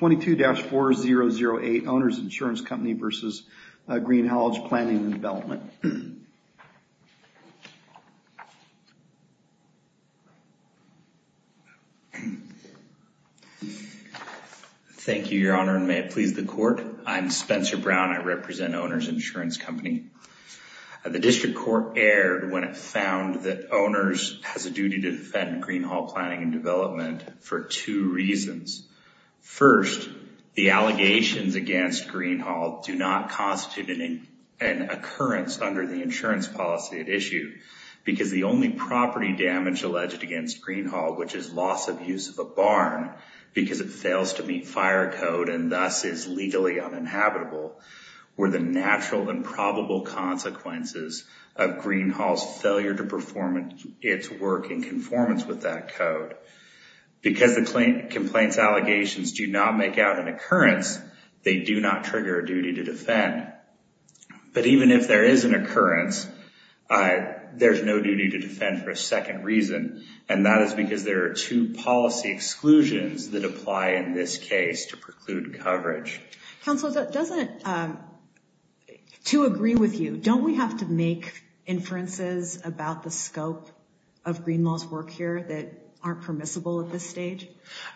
22-4008 Owners Insurance Company v. Greenhalgh Planning & Development. Thank you, Your Honor, and may it please the Court. I'm Spencer Brown. I represent Owners Insurance Company. The District Court erred when it found that Owners has a duty to defend allegations against Greenhalgh do not constitute an occurrence under the insurance policy at issue because the only property damage alleged against Greenhalgh, which is loss of use of a barn because it fails to meet fire code and thus is legally uninhabitable, were the natural and probable consequences of Greenhalgh's failure to perform its work in conformance with that code. Because the complaint's allegations do not make out an occurrence, they do not trigger a duty to defend. But even if there is an occurrence, there's no duty to defend for a second reason, and that is because there are two policy exclusions that apply in this case to preclude coverage. Counsel, to agree with you, don't we have to make inferences about the scope of Greenhalgh's work here that aren't permissible at this stage?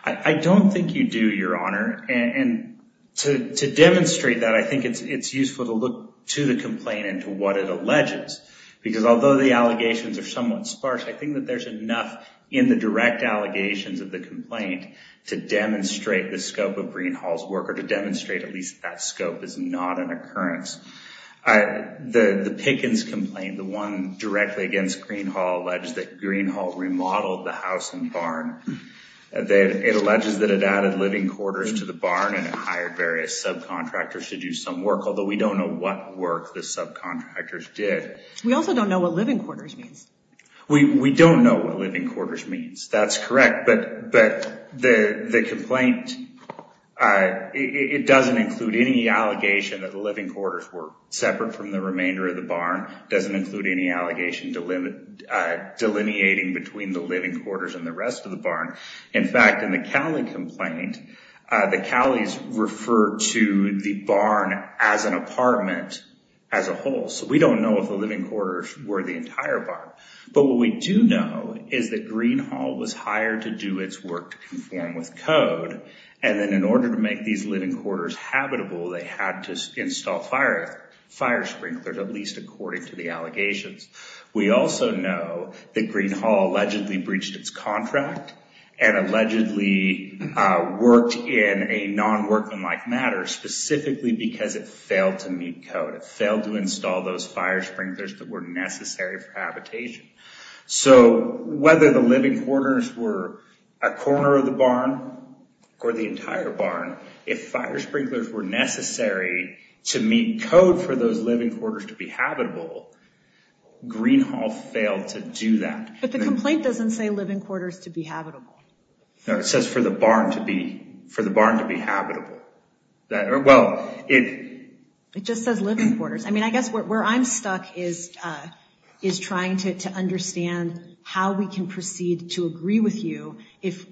I don't think you do, Your Honor, and to demonstrate that, I think it's useful to look to the complaint and to what it alleges because although the allegations are somewhat sparse, I think that there's enough in the direct allegations of the complaint to demonstrate the scope of Greenhalgh's work or to demonstrate at least that scope is not an occurrence. The Pickens complaint, the one directly against Greenhalgh, alleges that Greenhalgh remodeled the house and barn. It alleges that it added living quarters to the barn and hired various subcontractors to do some work, although we don't know what work the subcontractors did. We also don't know what living quarters means. We don't know what living quarters means, that's correct, but the complaint, it doesn't include any allegation that the living quarters were separate from the remainder of the barn, doesn't include any allegation delineating between the living quarters and the rest of the barn. In fact, in the Cowley complaint, the Cowleys refer to the barn as an apartment as a whole, so we don't know if the living quarters were the entire barn, but what we do know is that Greenhalgh was hired to do its work to conform with code, and then in order to make these living quarters habitable, they had to install fire sprinklers, at least according to the allegations. We also know that Greenhalgh allegedly breached its contract and allegedly worked in a non-workmanlike matter specifically because it failed to meet code. It failed to install those fire sprinklers that were necessary for habitation, so whether the living quarters were a corner of the barn or the entire barn, if fire sprinklers were necessary to meet code for those living quarters to be habitable, Greenhalgh failed to do that. But the complaint doesn't say living quarters to be habitable. No, it says for the barn to be habitable. It just says living quarters. I mean, I guess where I'm stuck is trying to understand how we can proceed to agree with you if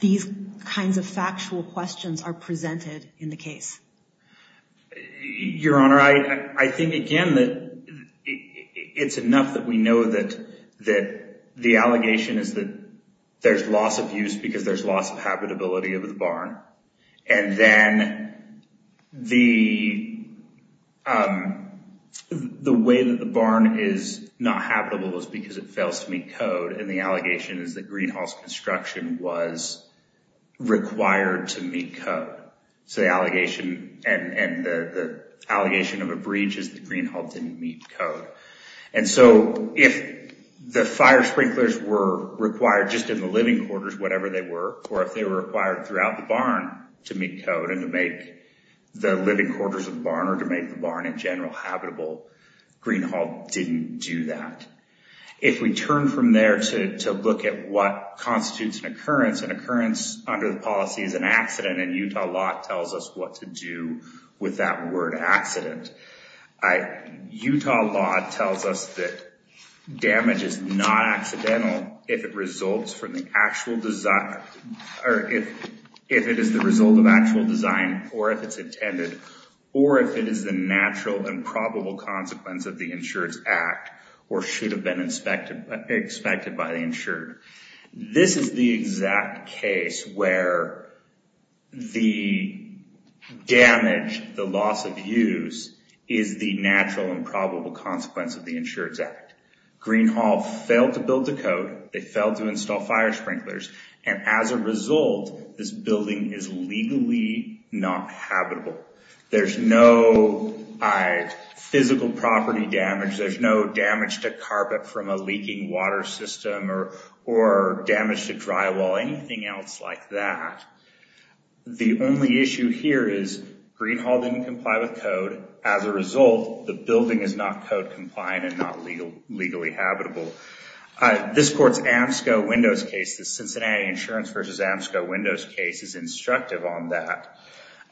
these kinds of factual questions are presented in the case. Your Honor, I think again that it's enough that we know that the allegation is that there's loss of use because there's loss of habitability of the barn, and then the way that the barn is not habitable is because it fails to meet code, and the allegation is that Greenhalgh's construction was required to meet code. The allegation of a breach is that Greenhalgh didn't meet code. If the fire sprinklers were required just in the living quarters, whatever they were, or if they were required throughout the barn to meet code and to make the living quarters of the barn or to make the barn in general habitable, Greenhalgh didn't do that. If we turn from there to look at what constitutes an occurrence, an occurrence under the policy is an accident, and Utah law tells us what to do with that word accident. Utah law tells us that damage is not accidental if it is the result of the natural and probable consequence of the insured's act or should have been expected by the insured. This is the exact case where the damage, the loss of use, is the natural and probable consequence of the insured's act. Greenhalgh failed to build the code. They failed to install fire sprinklers, and as a result, this building is legally not habitable. There's no physical property damage. There's no damage to carpet from a leaking water system or damage to drywall, anything else like that. The only issue here is Greenhalgh didn't comply with code. As a result, the building is not code compliant and not legally habitable. This court's Amsco-Windows case, the Cincinnati Insurance v. Amsco-Windows case is instructive on that.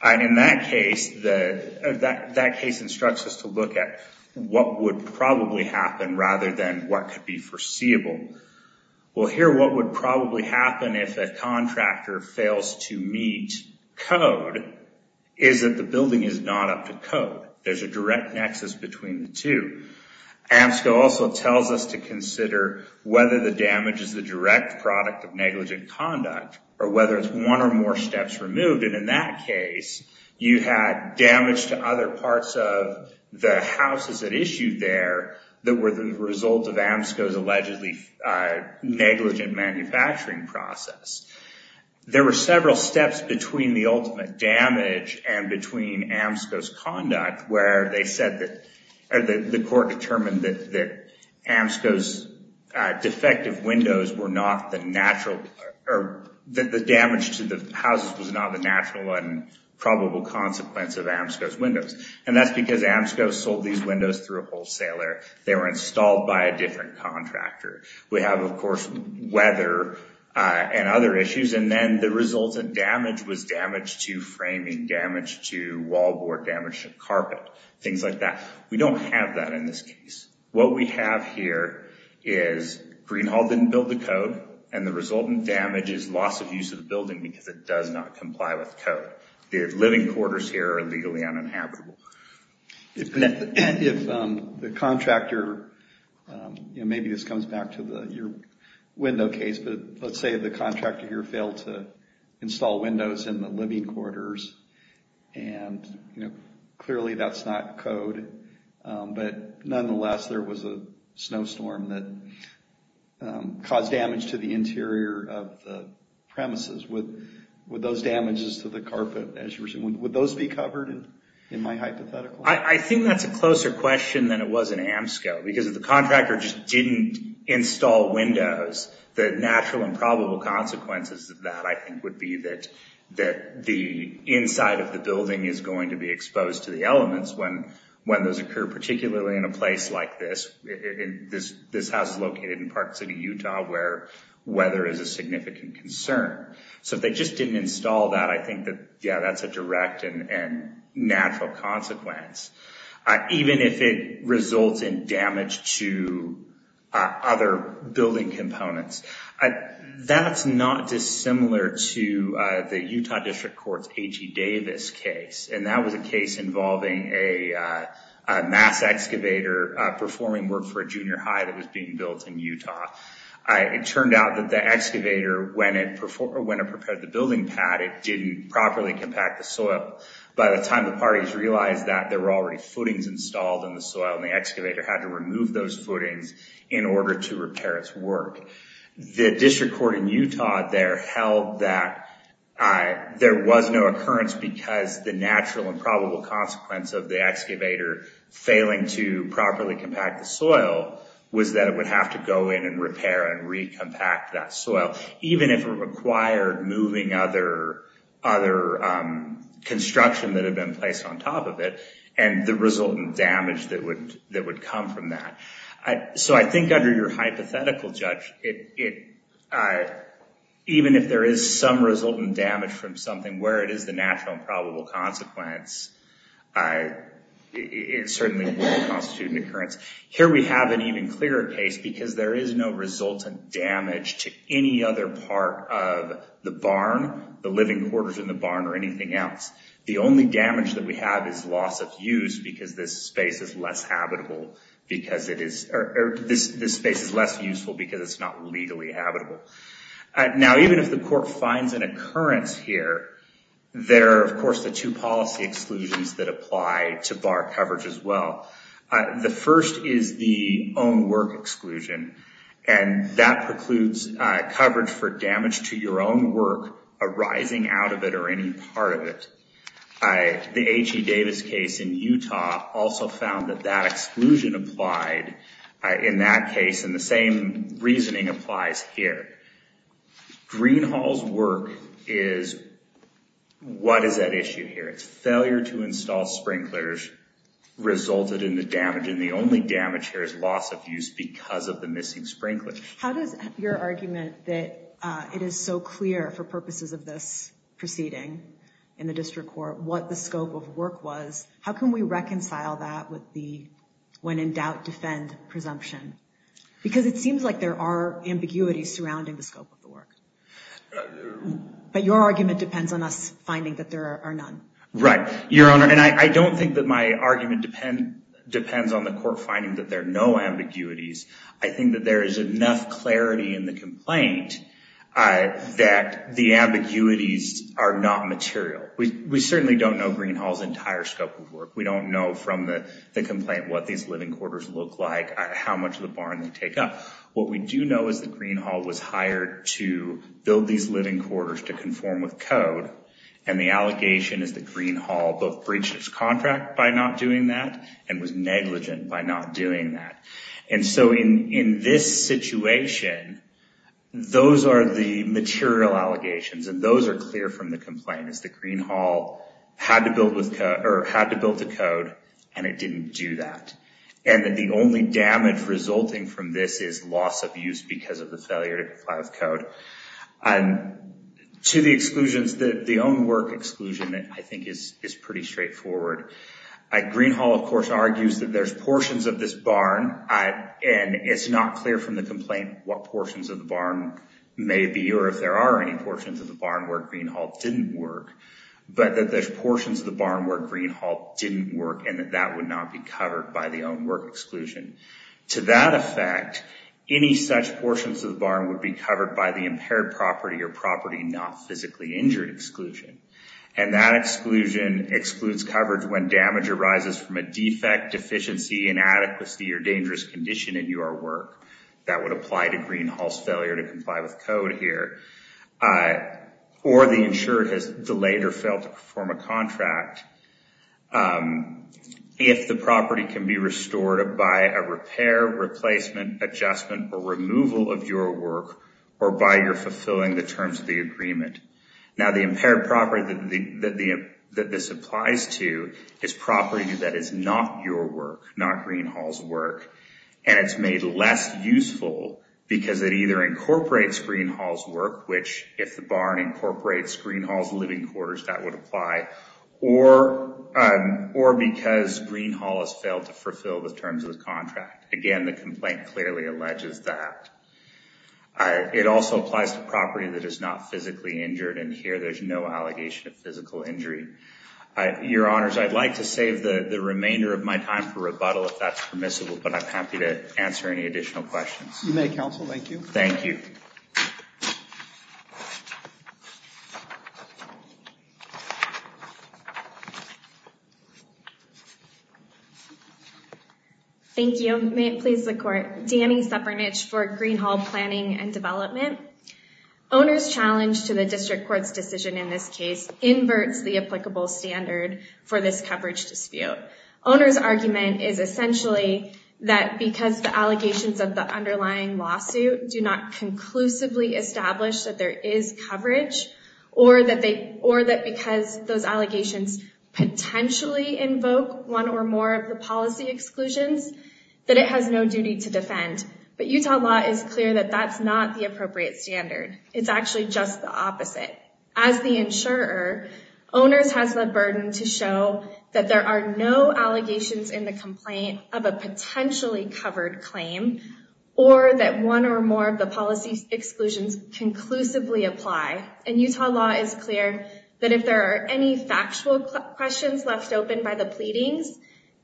In that case, that case instructs us to look at what would probably happen rather than what could be foreseeable. Here, what would probably happen if a contractor fails to meet code is that the building is not up to code. There's a direct nexus between the two. Amsco also tells us to consider whether the damage is the direct product of negligent conduct or whether it's one or more steps removed. In that case, you had damage to other parts of the houses at issue there that were the result of Amsco's allegedly negligent manufacturing process. There were several steps between the ultimate damage and between Amsco's negligent conduct where the court determined that Amsco's defective windows were not the natural or that the damage to the houses was not the natural and probable consequence of Amsco's windows. That's because Amsco sold these windows through a wholesaler. They were installed by a different contractor. We have, of course, weather and other issues. Then the resultant damage was framing damage to wallboard, damage to carpet, things like that. We don't have that in this case. What we have here is Greenhalgh didn't build the code and the resultant damage is loss of use of the building because it does not comply with code. The living quarters here are legally uninhabitable. If the contractor, maybe this comes back to your window case, but let's say the contractor here failed to install windows in the living quarters. Clearly, that's not code. Nonetheless, there was a snowstorm that caused damage to the interior of the premises with those damages to the carpet. Would those be covered in my hypothetical? I think that's a closer question than it was in Amsco because if the contractor just didn't install windows, the natural and probable consequences of that, I think, would be that the inside of the building is going to be exposed to the elements when those occur, particularly in a place like this. This house is located in Park City, Utah, where weather is a significant concern. If they just didn't install that, I think that's a direct and natural consequence. Even if it results in damage to other building components, that's not dissimilar to the Utah District Court's H.E. Davis case. That was a case involving a mass excavator performing work for a junior high that was being built in Utah. It turned out that the excavator, when it prepared the building pad, it didn't properly compact the soil. By the time the parties realized that, there were already footings installed in the soil. The excavator had to remove those footings in order to repair its work. The District Court in Utah there held that there was no occurrence because the natural and probable consequence of the excavator failing to properly compact the soil was that it would have to go in and repair and recompact that soil, even if it required moving other construction that had been placed on top of it and the resultant damage that would come from that. I think under your hypothetical, Judge, even if there is some resultant damage from something where it is the natural and probable consequence, it certainly wouldn't constitute an occurrence. Here we have an even clearer case because there is no resultant damage to any other part of the barn, the living quarters in the barn or anything else. The only damage that we have is loss of use because this space is less habitable because it is... This space is less useful because it's not legally habitable. Now, even if the court finds an occurrence here, there are, of course, the two policy exclusions that apply to bar coverage as well. The first is the own work exclusion and that precludes coverage for damage to your own work arising out of it or any part of it. The H.E. Davis case in Utah also found that that exclusion applied in that case and the same reasoning applies here. Greenhall's work is... What is at issue here? It's failure to install sprinklers resulted in the damage and the only damage here is loss of use because of the missing sprinkler. How does your argument that it is so clear for purposes of this proceeding in the district court what the scope of work was, how can we reconcile that with the when in doubt defend presumption? Because it seems like there are ambiguities surrounding the scope of the work, but your argument depends on us finding that there are none. Right. Your Honor, I don't think that my argument depends on the court finding that there are no ambiguities. I think that there is enough clarity in the complaint that the ambiguities are not material. We certainly don't know Greenhall's entire scope of work. What we do know is that Greenhall was hired to build these living quarters to conform with code and the allegation is that Greenhall both breached its contract by not doing that and was negligent by not doing that. In this situation, those are the material allegations and those are clear from the complaint. It's that Greenhall had to build the code and it didn't do that and that the only damage resulting from this is loss of use because of the failure to comply with code. To the exclusions, the own work exclusion I think is pretty straightforward. Greenhall of course argues that there's portions of this barn and it's not clear from the complaint what portions of the barn may be or if there are any portions of the barn where that would not be covered by the own work exclusion. To that effect, any such portions of the barn would be covered by the impaired property or property not physically injured exclusion and that exclusion excludes coverage when damage arises from a defect, deficiency, inadequacy or dangerous condition in your work. That would apply to Greenhall's failure to comply with code here or the insurer has delayed or failed to perform a contract. If the property can be restored by a repair, replacement, adjustment or removal of your work or by your fulfilling the terms of the agreement. Now the impaired property that this applies to is property that is not your work, not Greenhall's work and it's made less useful because it either incorporates Greenhall's work which if the barn incorporates Greenhall's living quarters that would apply or because Greenhall has failed to fulfill the terms of the contract. Again the complaint clearly alleges that. It also applies to property that is not physically injured and here there's no allegation of physical injury. Your honors, I'd like to save the the remainder of my time for rebuttal if that's permissible but I'm happy to answer any additional questions. You may counsel, thank you. Thank you. Thank you. May it please the court. Dani Sepernich for Greenhall Planning and Development. Owner's challenge to the district court's decision in this case inverts the applicable standard for this coverage dispute. Owner's argument is essentially that because the allegations of the underlying lawsuit do not conclusively establish that there is coverage or that because those allegations potentially invoke one or more of the policy exclusions that it has no duty to defend. But Utah law is clear that that's not the appropriate standard. It's actually just the opposite. As the insurer, owner's has the burden to show that there are no allegations in the complaint of a potentially covered claim or that one or more of the policy exclusions conclusively apply. And Utah law is clear that if there are any factual questions left open by the pleadings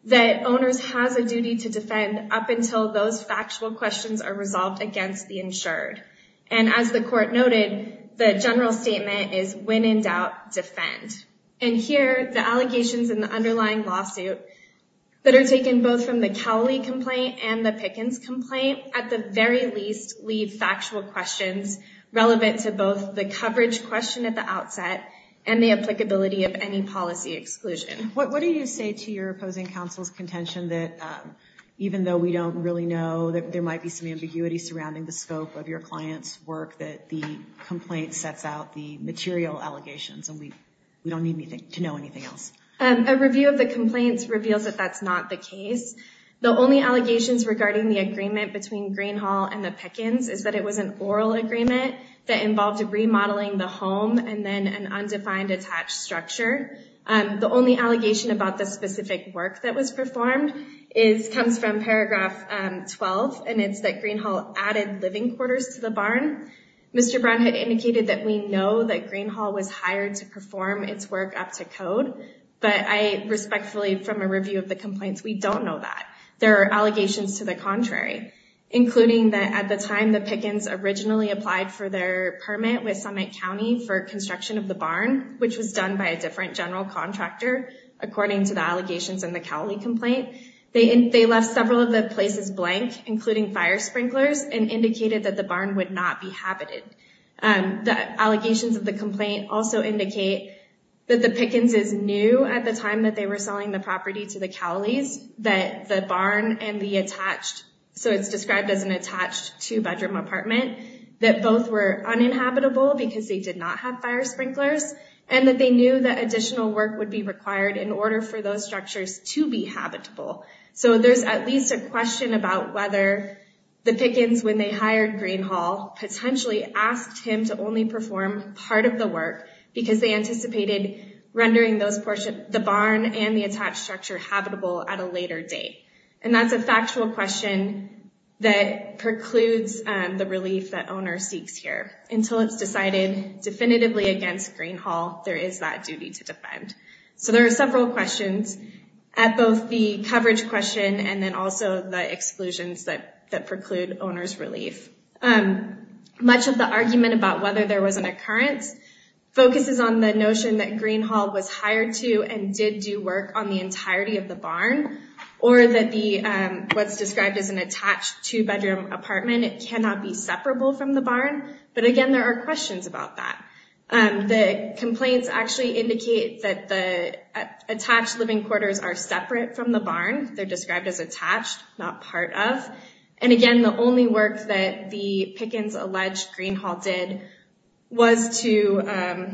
that owner's has a duty to defend up until those factual questions are resolved against the insured. And as the court noted the general statement is when in doubt defend. And here the that are taken both from the Cowley complaint and the Pickens complaint at the very least leave factual questions relevant to both the coverage question at the outset and the applicability of any policy exclusion. What do you say to your opposing counsel's contention that even though we don't really know that there might be some ambiguity surrounding the scope of your clients work that the complaint sets out the material allegations and we not the case. The only allegations regarding the agreement between Greenhall and the Pickens is that it was an oral agreement that involved remodeling the home and then an undefined attached structure. The only allegation about the specific work that was performed comes from paragraph 12 and it's that Greenhall added living quarters to the barn. Mr. Brown had indicated that we know that Greenhall was hired to perform its work up to code but I respectfully from a review of the complaints we don't know that. There are allegations to the contrary including that at the time the Pickens originally applied for their permit with Summit County for construction of the barn which was done by a different general contractor according to the allegations in the Cowley complaint. They left several of the places blank including fire sprinklers and indicated that the barn would not be habited. The allegations of the complaint also indicate that the Pickens is new at the time that they were selling the property to the Cowleys that the barn and the attached so it's described as an attached two-bedroom apartment that both were uninhabitable because they did not have fire sprinklers and that they knew that additional work would be required in order for those structures to be habitable. So there's at least a question about whether the Pickens when they hired Greenhall potentially asked him to only perform part of the work because they anticipated rendering those portion the barn and the attached structure habitable at a later date and that's a factual question that precludes the relief that owner seeks here until it's decided definitively against Greenhall there is that duty to defend. So there are several questions at both the coverage question and then also the exclusions that that preclude owner's relief. Much of the argument about whether there was an occurrence focuses on the notion that Greenhall was hired to and did do work on the entirety of the barn or that the what's described as an attached two-bedroom apartment cannot be separable from the barn but again there are questions about that. The complaints actually indicate that the attached living quarters are separate from the barn they're described as attached not part of and again the only work that the Pickens alleged Greenhall did was to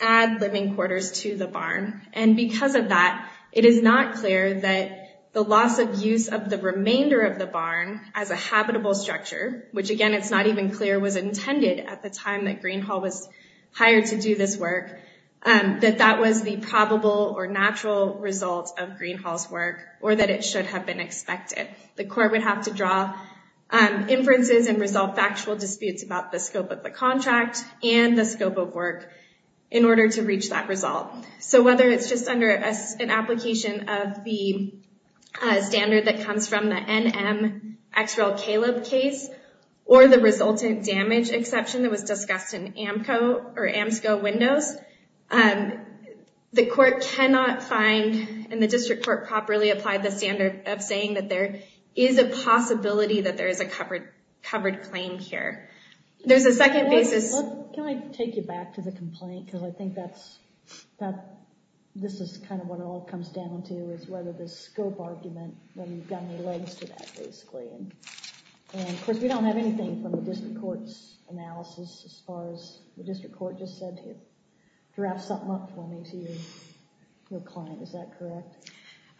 add living quarters to the barn and because of that it is not clear that the loss of use of the remainder of the barn as a habitable structure which again it's not even clear was intended at the time that Greenhall was hired to do this work that that was the probable or natural result of Greenhall's work or that it should have been expected. The court would have to draw inferences and resolve factual disputes about the scope of the contract and the scope of work in order to reach that result. So whether it's just under an application of the standard that discussed in AMCO or AMSCO windows, the court cannot find and the district court properly applied the standard of saying that there is a possibility that there is a covered claimed here. There's a second basis. Can I take you back to the complaint because I think that's that this is kind of what it all comes down to is whether the scope argument when you've got any legs to that basically and of course we don't have anything from the district court's analysis as far as the district court just said to draft something up for me to your client is that correct?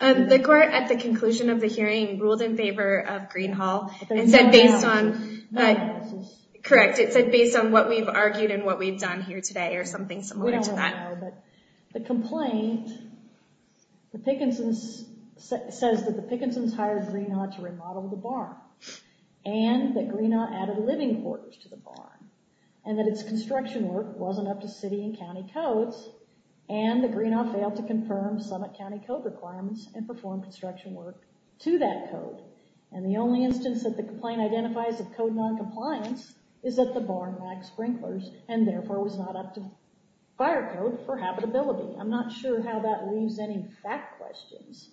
The court at the conclusion of the hearing ruled in favor of Greenhall and said based on that correct it said based on what we've argued and what we've done here today or something similar to that. The complaint the Pickensons says that the Pickensons hired Greenhall to remodel the barn and that Greenhall added living quarters to the barn and that its construction work wasn't up to city and county codes and that Greenhall failed to confirm summit county code requirements and perform construction work to that code and the only instance that the complaint identifies of code non-compliance is that the barn lacked sprinklers and therefore was not up to fire code for habitability. I'm not sure how that leaves any fact questions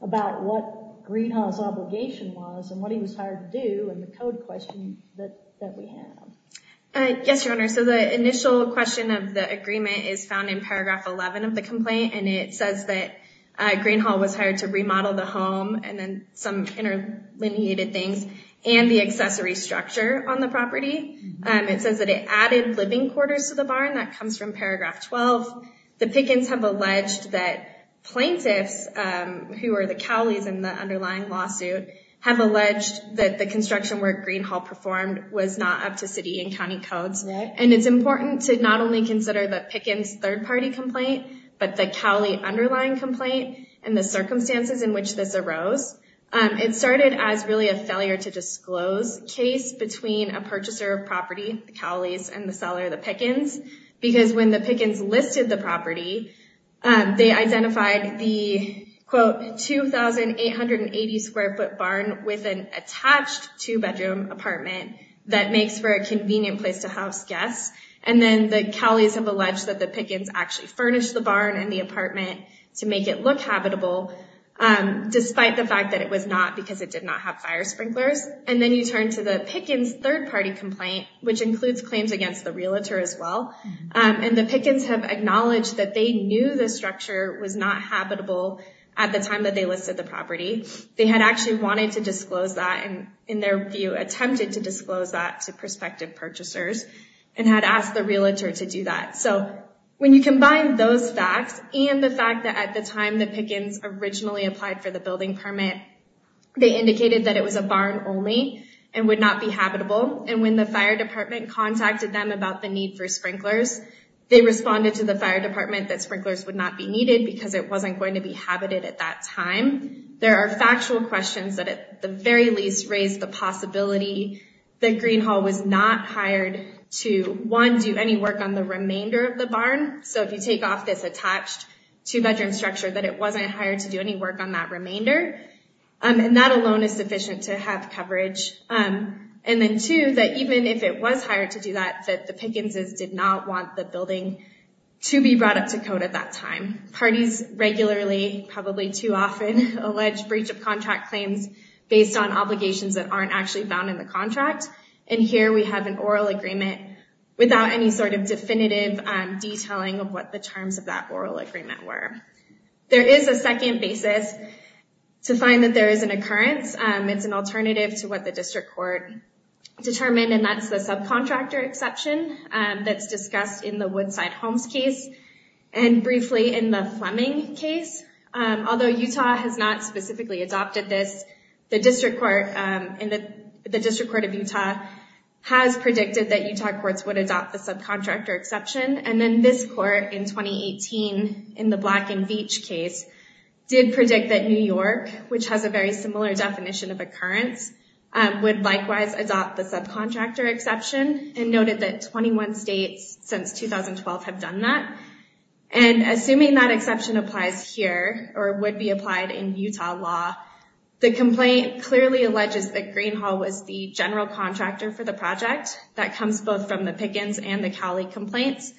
about what Greenhall's obligation was and what he was hired to do and the code question that we have. Yes your honor so the initial question of the agreement is found in paragraph 11 of the complaint and it says that Greenhall was hired to remodel the home and then some inter-lineated things and the accessory structure on the property. It says that it added living quarters to the barn that comes from paragraph 12. The Pickens have alleged that plaintiffs who are the Cowleys in the underlying lawsuit have alleged that the construction work Greenhall performed was not up to city and county codes and it's important to not only consider the Pickens third-party complaint but the Cowley underlying complaint and the circumstances in which this arose. It started as really a failure to disclose case between a purchaser of property the Cowleys and the seller the Pickens because when the Pickens listed the property they identified the quote 2,880 square foot barn with an attached two-bedroom apartment that makes for a convenient place to house guests and then the Cowleys have alleged that the Pickens actually furnished the barn and the apartment to make it look habitable despite the fact that it was not because it did not have fire sprinklers and then you turn to the Pickens third-party complaint which includes claims against the Pickens have acknowledged that they knew the structure was not habitable at the time that they listed the property. They had actually wanted to disclose that and in their view attempted to disclose that to prospective purchasers and had asked the realtor to do that so when you combine those facts and the fact that at the time the Pickens originally applied for the building permit they indicated that it was a barn only and would not be habitable and when the fire department contacted them about the need for sprinklers they responded to the fire department that sprinklers would not be needed because it wasn't going to be habited at that time. There are factual questions that at the very least raised the possibility that Green Hall was not hired to one do any work on the remainder of the barn so if you take off this attached two-bedroom structure that it wasn't hired to do any work on that remainder and that alone is sufficient to have coverage and then two that even if it was hired to do that the Pickenses did not want the building to be brought up to code at that time. Parties regularly probably too often allege breach of contract claims based on obligations that aren't actually found in the contract and here we have an oral agreement without any sort of definitive detailing of what the terms of that oral agreement were. There is a second basis to find that there is an occurrence it's an alternative to what the district court determined and that's the subcontractor exception that's discussed in the Woodside Homes case and briefly in the Fleming case although Utah has not specifically adopted this the district court in the the district court of Utah has predicted that Utah courts would adopt the subcontractor exception and then this court in 2018 in the Black and Veatch case did predict that New York which has a very similar definition of occurrence would likewise adopt the subcontractor exception and noted that 21 states since 2012 have done that and assuming that exception applies here or would be applied in for the project that comes both from the Pickens and the Cowley complaints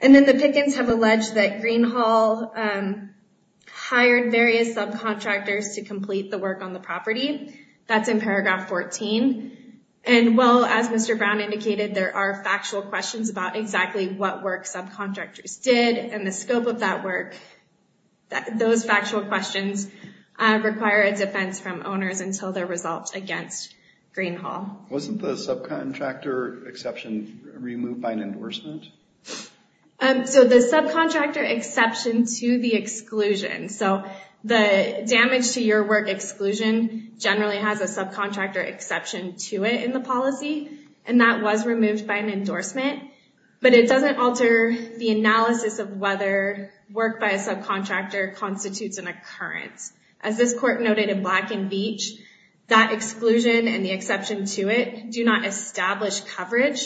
and then the Pickens have alleged that Greenhall hired various subcontractors to complete the work on the property that's in paragraph 14 and well as Mr. Brown indicated there are factual questions about exactly what work subcontractors did and the scope of that work that those factual questions require a defense from owners until their result against Greenhall. Wasn't the subcontractor exception removed by an endorsement? So the subcontractor exception to the exclusion so the damage to your work exclusion generally has a subcontractor exception to it in the policy and that was removed by an endorsement but it doesn't alter the analysis of whether work by a subcontractor constitutes an occurrence as this court noted in Black and Veatch that exclusion and the exception to it do not establish coverage.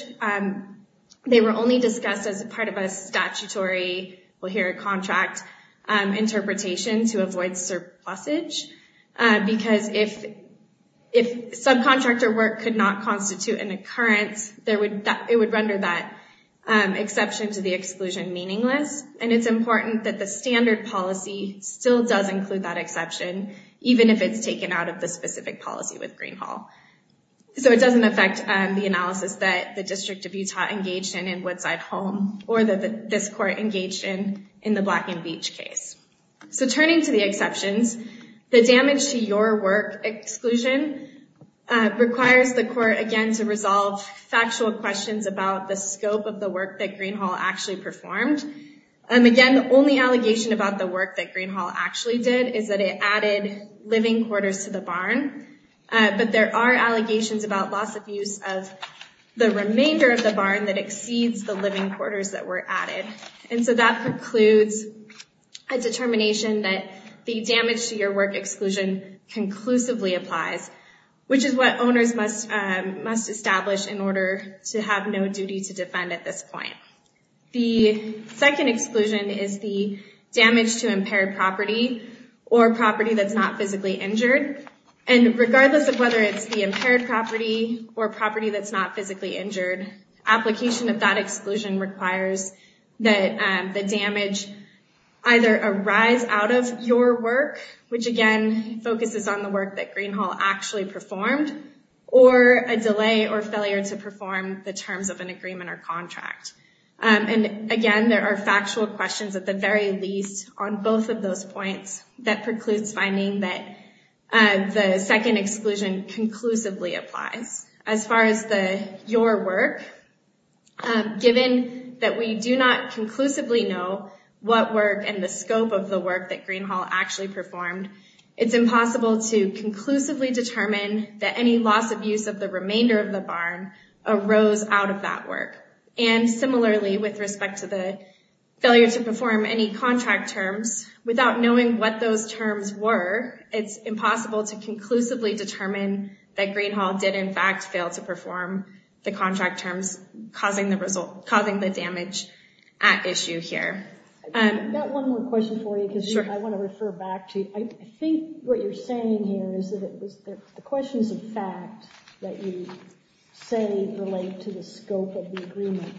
They were only discussed as a part of a statutory we'll hear a contract interpretation to avoid surplusage because if if subcontractor work could not constitute an occurrence there would that it would render that exception to the exclusion meaningless and it's important that the standard policy still does include that exception even if it's taken out of the specific policy with Greenhall so it doesn't affect the analysis that the District of Utah engaged in in Woodside Home or that this court engaged in in the Black and Veatch case. So turning to the exceptions the damage to your work exclusion requires the court again to resolve factual questions about the scope of the work that Greenhall actually performed and again the only allegation about the work that Greenhall actually did is that it added living quarters to the barn but there are allegations about loss of use of the remainder of the barn that exceeds the living quarters that were added and so that precludes a determination that the damage to your work exclusion conclusively applies which is what owners must must establish in order to have no duty to defend at this point. The second exclusion is the damage to impaired property or property that's not physically injured and regardless of whether it's the impaired property or property that's not physically injured application of that exclusion requires that the damage either arise out of your work which again focuses on the work that Greenhall actually performed or a delay or failure to perform the terms of an agreement or contract and again there are factual questions at the very least on both of those points that precludes finding that the second exclusion conclusively applies as far as the your work given that we do not conclusively know what work and the scope of work that Greenhall actually performed it's impossible to conclusively determine that any loss of use of the remainder of the barn arose out of that work and similarly with respect to the failure to perform any contract terms without knowing what those terms were it's impossible to conclusively determine that Greenhall did in fact fail to perform the contract terms causing the damage at issue here. I've got one more question for you because I want to refer back to I think what you're saying here is that it was the questions of fact that you say relate to the scope of the agreement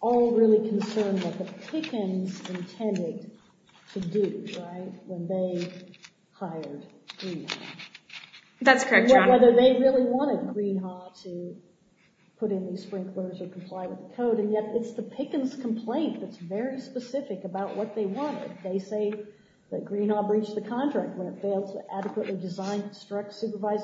all really concerned with the Pickens intended to do right when they hired Greenhall. That's correct. Whether they really wanted Greenhall to put in these sprinklers or comply with the code and yet it's the Pickens complaint that's very specific about what they wanted. They say that Greenhall breached the contract when it failed to adequately design, construct, supervise,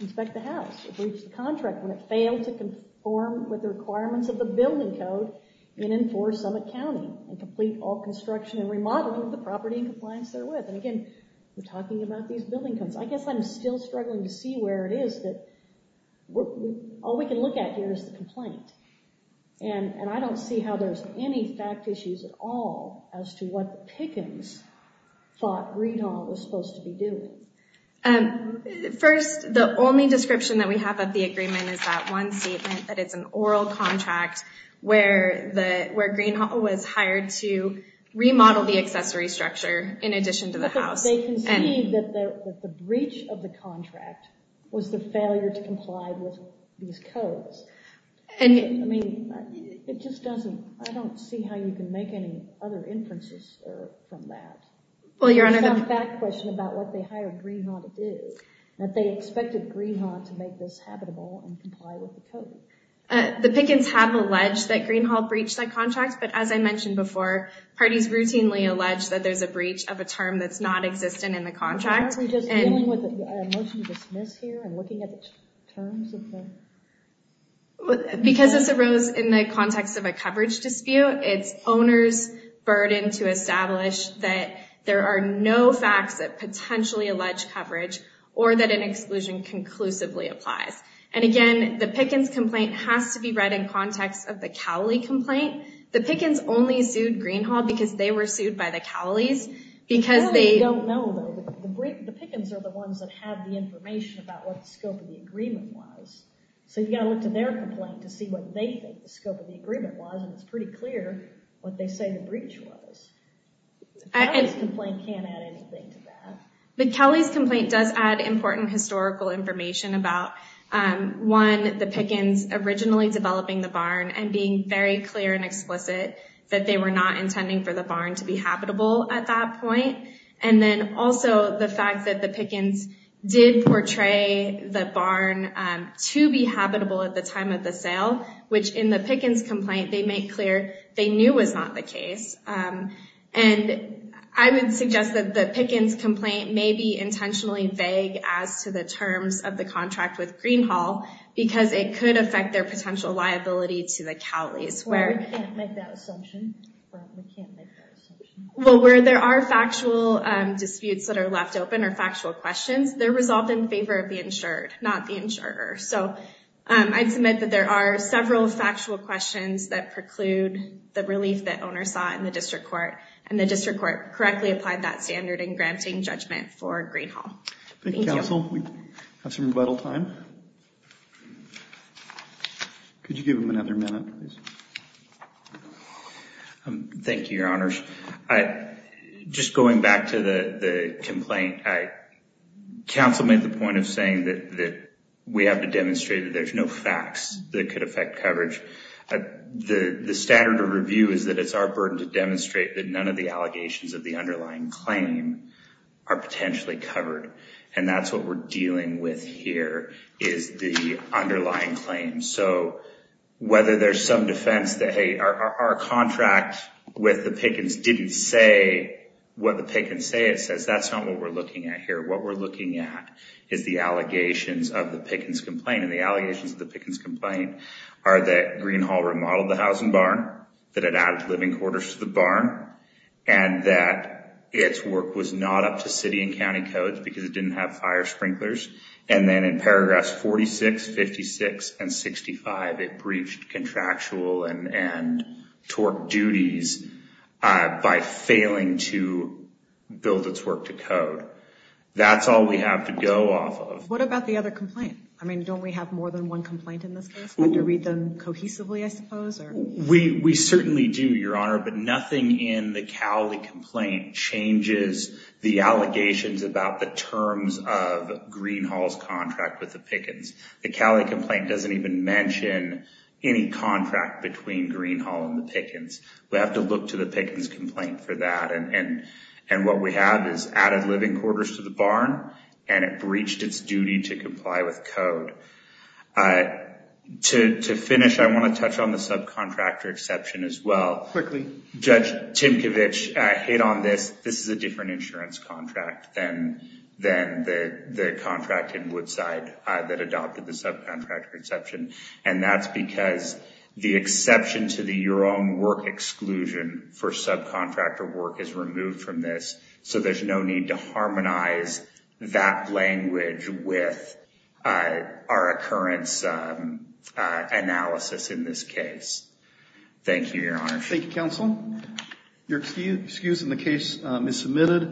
inspect the house. It breached the contract when it failed to conform with the requirements of the building code in and for Summit County and complete all construction and remodeling the property in compliance therewith and again we're talking about these building codes. I guess I'm still struggling to see where it is that all we can look at here is the complaint and I don't see how there's any fact issues at all as to what the Pickens thought Greenhall was supposed to be doing. First the only description that we have of the agreement is that one statement that it's an oral contract where Greenhall was hired to remodel the accessory structure in addition to the house. They can see that the breach of the and I mean it just doesn't, I don't see how you can make any other inferences from that. Well your honor, I have a fact question about what they hired Greenhall to do. That they expected Greenhall to make this habitable and comply with the code. The Pickens have alleged that Greenhall breached that contract but as I mentioned before parties routinely allege that there's a breach of a term that's not existent in the contract. Are we just dealing with a motion to dismiss here and looking at the terms? Because this arose in the context of a coverage dispute, it's owner's burden to establish that there are no facts that potentially allege coverage or that an exclusion conclusively applies. And again the Pickens complaint has to be read in context of the Cowley complaint. The Pickens only sued Greenhall because they were sued by the Cowleys. Because they don't know, the Pickens are the ones that have the information about what the scope of the agreement was. So you got to look to their complaint to see what they think the scope of the agreement was and it's pretty clear what they say the breach was. The Cowleys complaint can't add anything to that. The Cowleys complaint does add important historical information about one, the Pickens originally developing the barn and being very clear and explicit that they were not intending for the barn to be habitable at that point. And then also the fact that the Pickens did portray the barn to be habitable at the time of the sale, which in the Pickens complaint they make clear they knew was not the case. And I would suggest that the Pickens complaint may be intentionally vague as to the terms of the contract with Greenhall because it could affect their potential liability to the Cowleys. Well, we can't make that assumption. Well, where there are factual disputes that are left open or factual questions, they're resolved in favor of the insured, not the insurer. So I'd submit that there are several factual questions that preclude the relief that owners saw in the district court and the district court correctly applied that standard in granting judgment for Greenhall. Thank you, counsel. We have some rebuttal time. Could you give them another minute, please? Thank you, your honors. Just going back to the complaint, counsel made the point of saying that we have to demonstrate that there's no facts that could affect coverage. The standard of review is that it's our burden to demonstrate that none of the allegations of the underlying claim are potentially covered. And that's what we're dealing with here is the underlying claim. So whether there's some defense that, hey, our contract with the Pickens didn't say what the Pickens say it says, that's not what we're looking at here. What we're looking at is the allegations of the Pickens complaint. And the allegations of the Pickens complaint are that Greenhall remodeled the housing barn, that it added living quarters to the barn, and that its work was not up to city and county codes because it didn't have fire sprinklers. And then in paragraphs 46, 56, and 65, it breached contractual and torque duties by failing to build its work to code. That's all we have to go off of. What about the other complaint? I mean, don't we have more than one complaint in this case? We have to read them cohesively, I suppose? We certainly do, your honor. But nothing in the Cowley complaint changes the allegations about the terms of Greenhall's contract with the Pickens. The Cowley complaint doesn't even mention any contract between Greenhall and the Pickens. We have to look to the Pickens complaint for that. And what we have is added living quarters to the barn, and it breached its duty to comply with code. To finish, I want to touch on the subcontractor exception as well. Quickly. Judge Timkovich hit on this. This is a different insurance contract than the contract in Woodside that adopted the subcontractor exception. And that's because the exception to the your own work exclusion for subcontractor work is removed from this. So there's no need to harmonize that language with our occurrence analysis in this case. Thank you, your honor. Thank you, counsel. Your excuse in the case is submitted.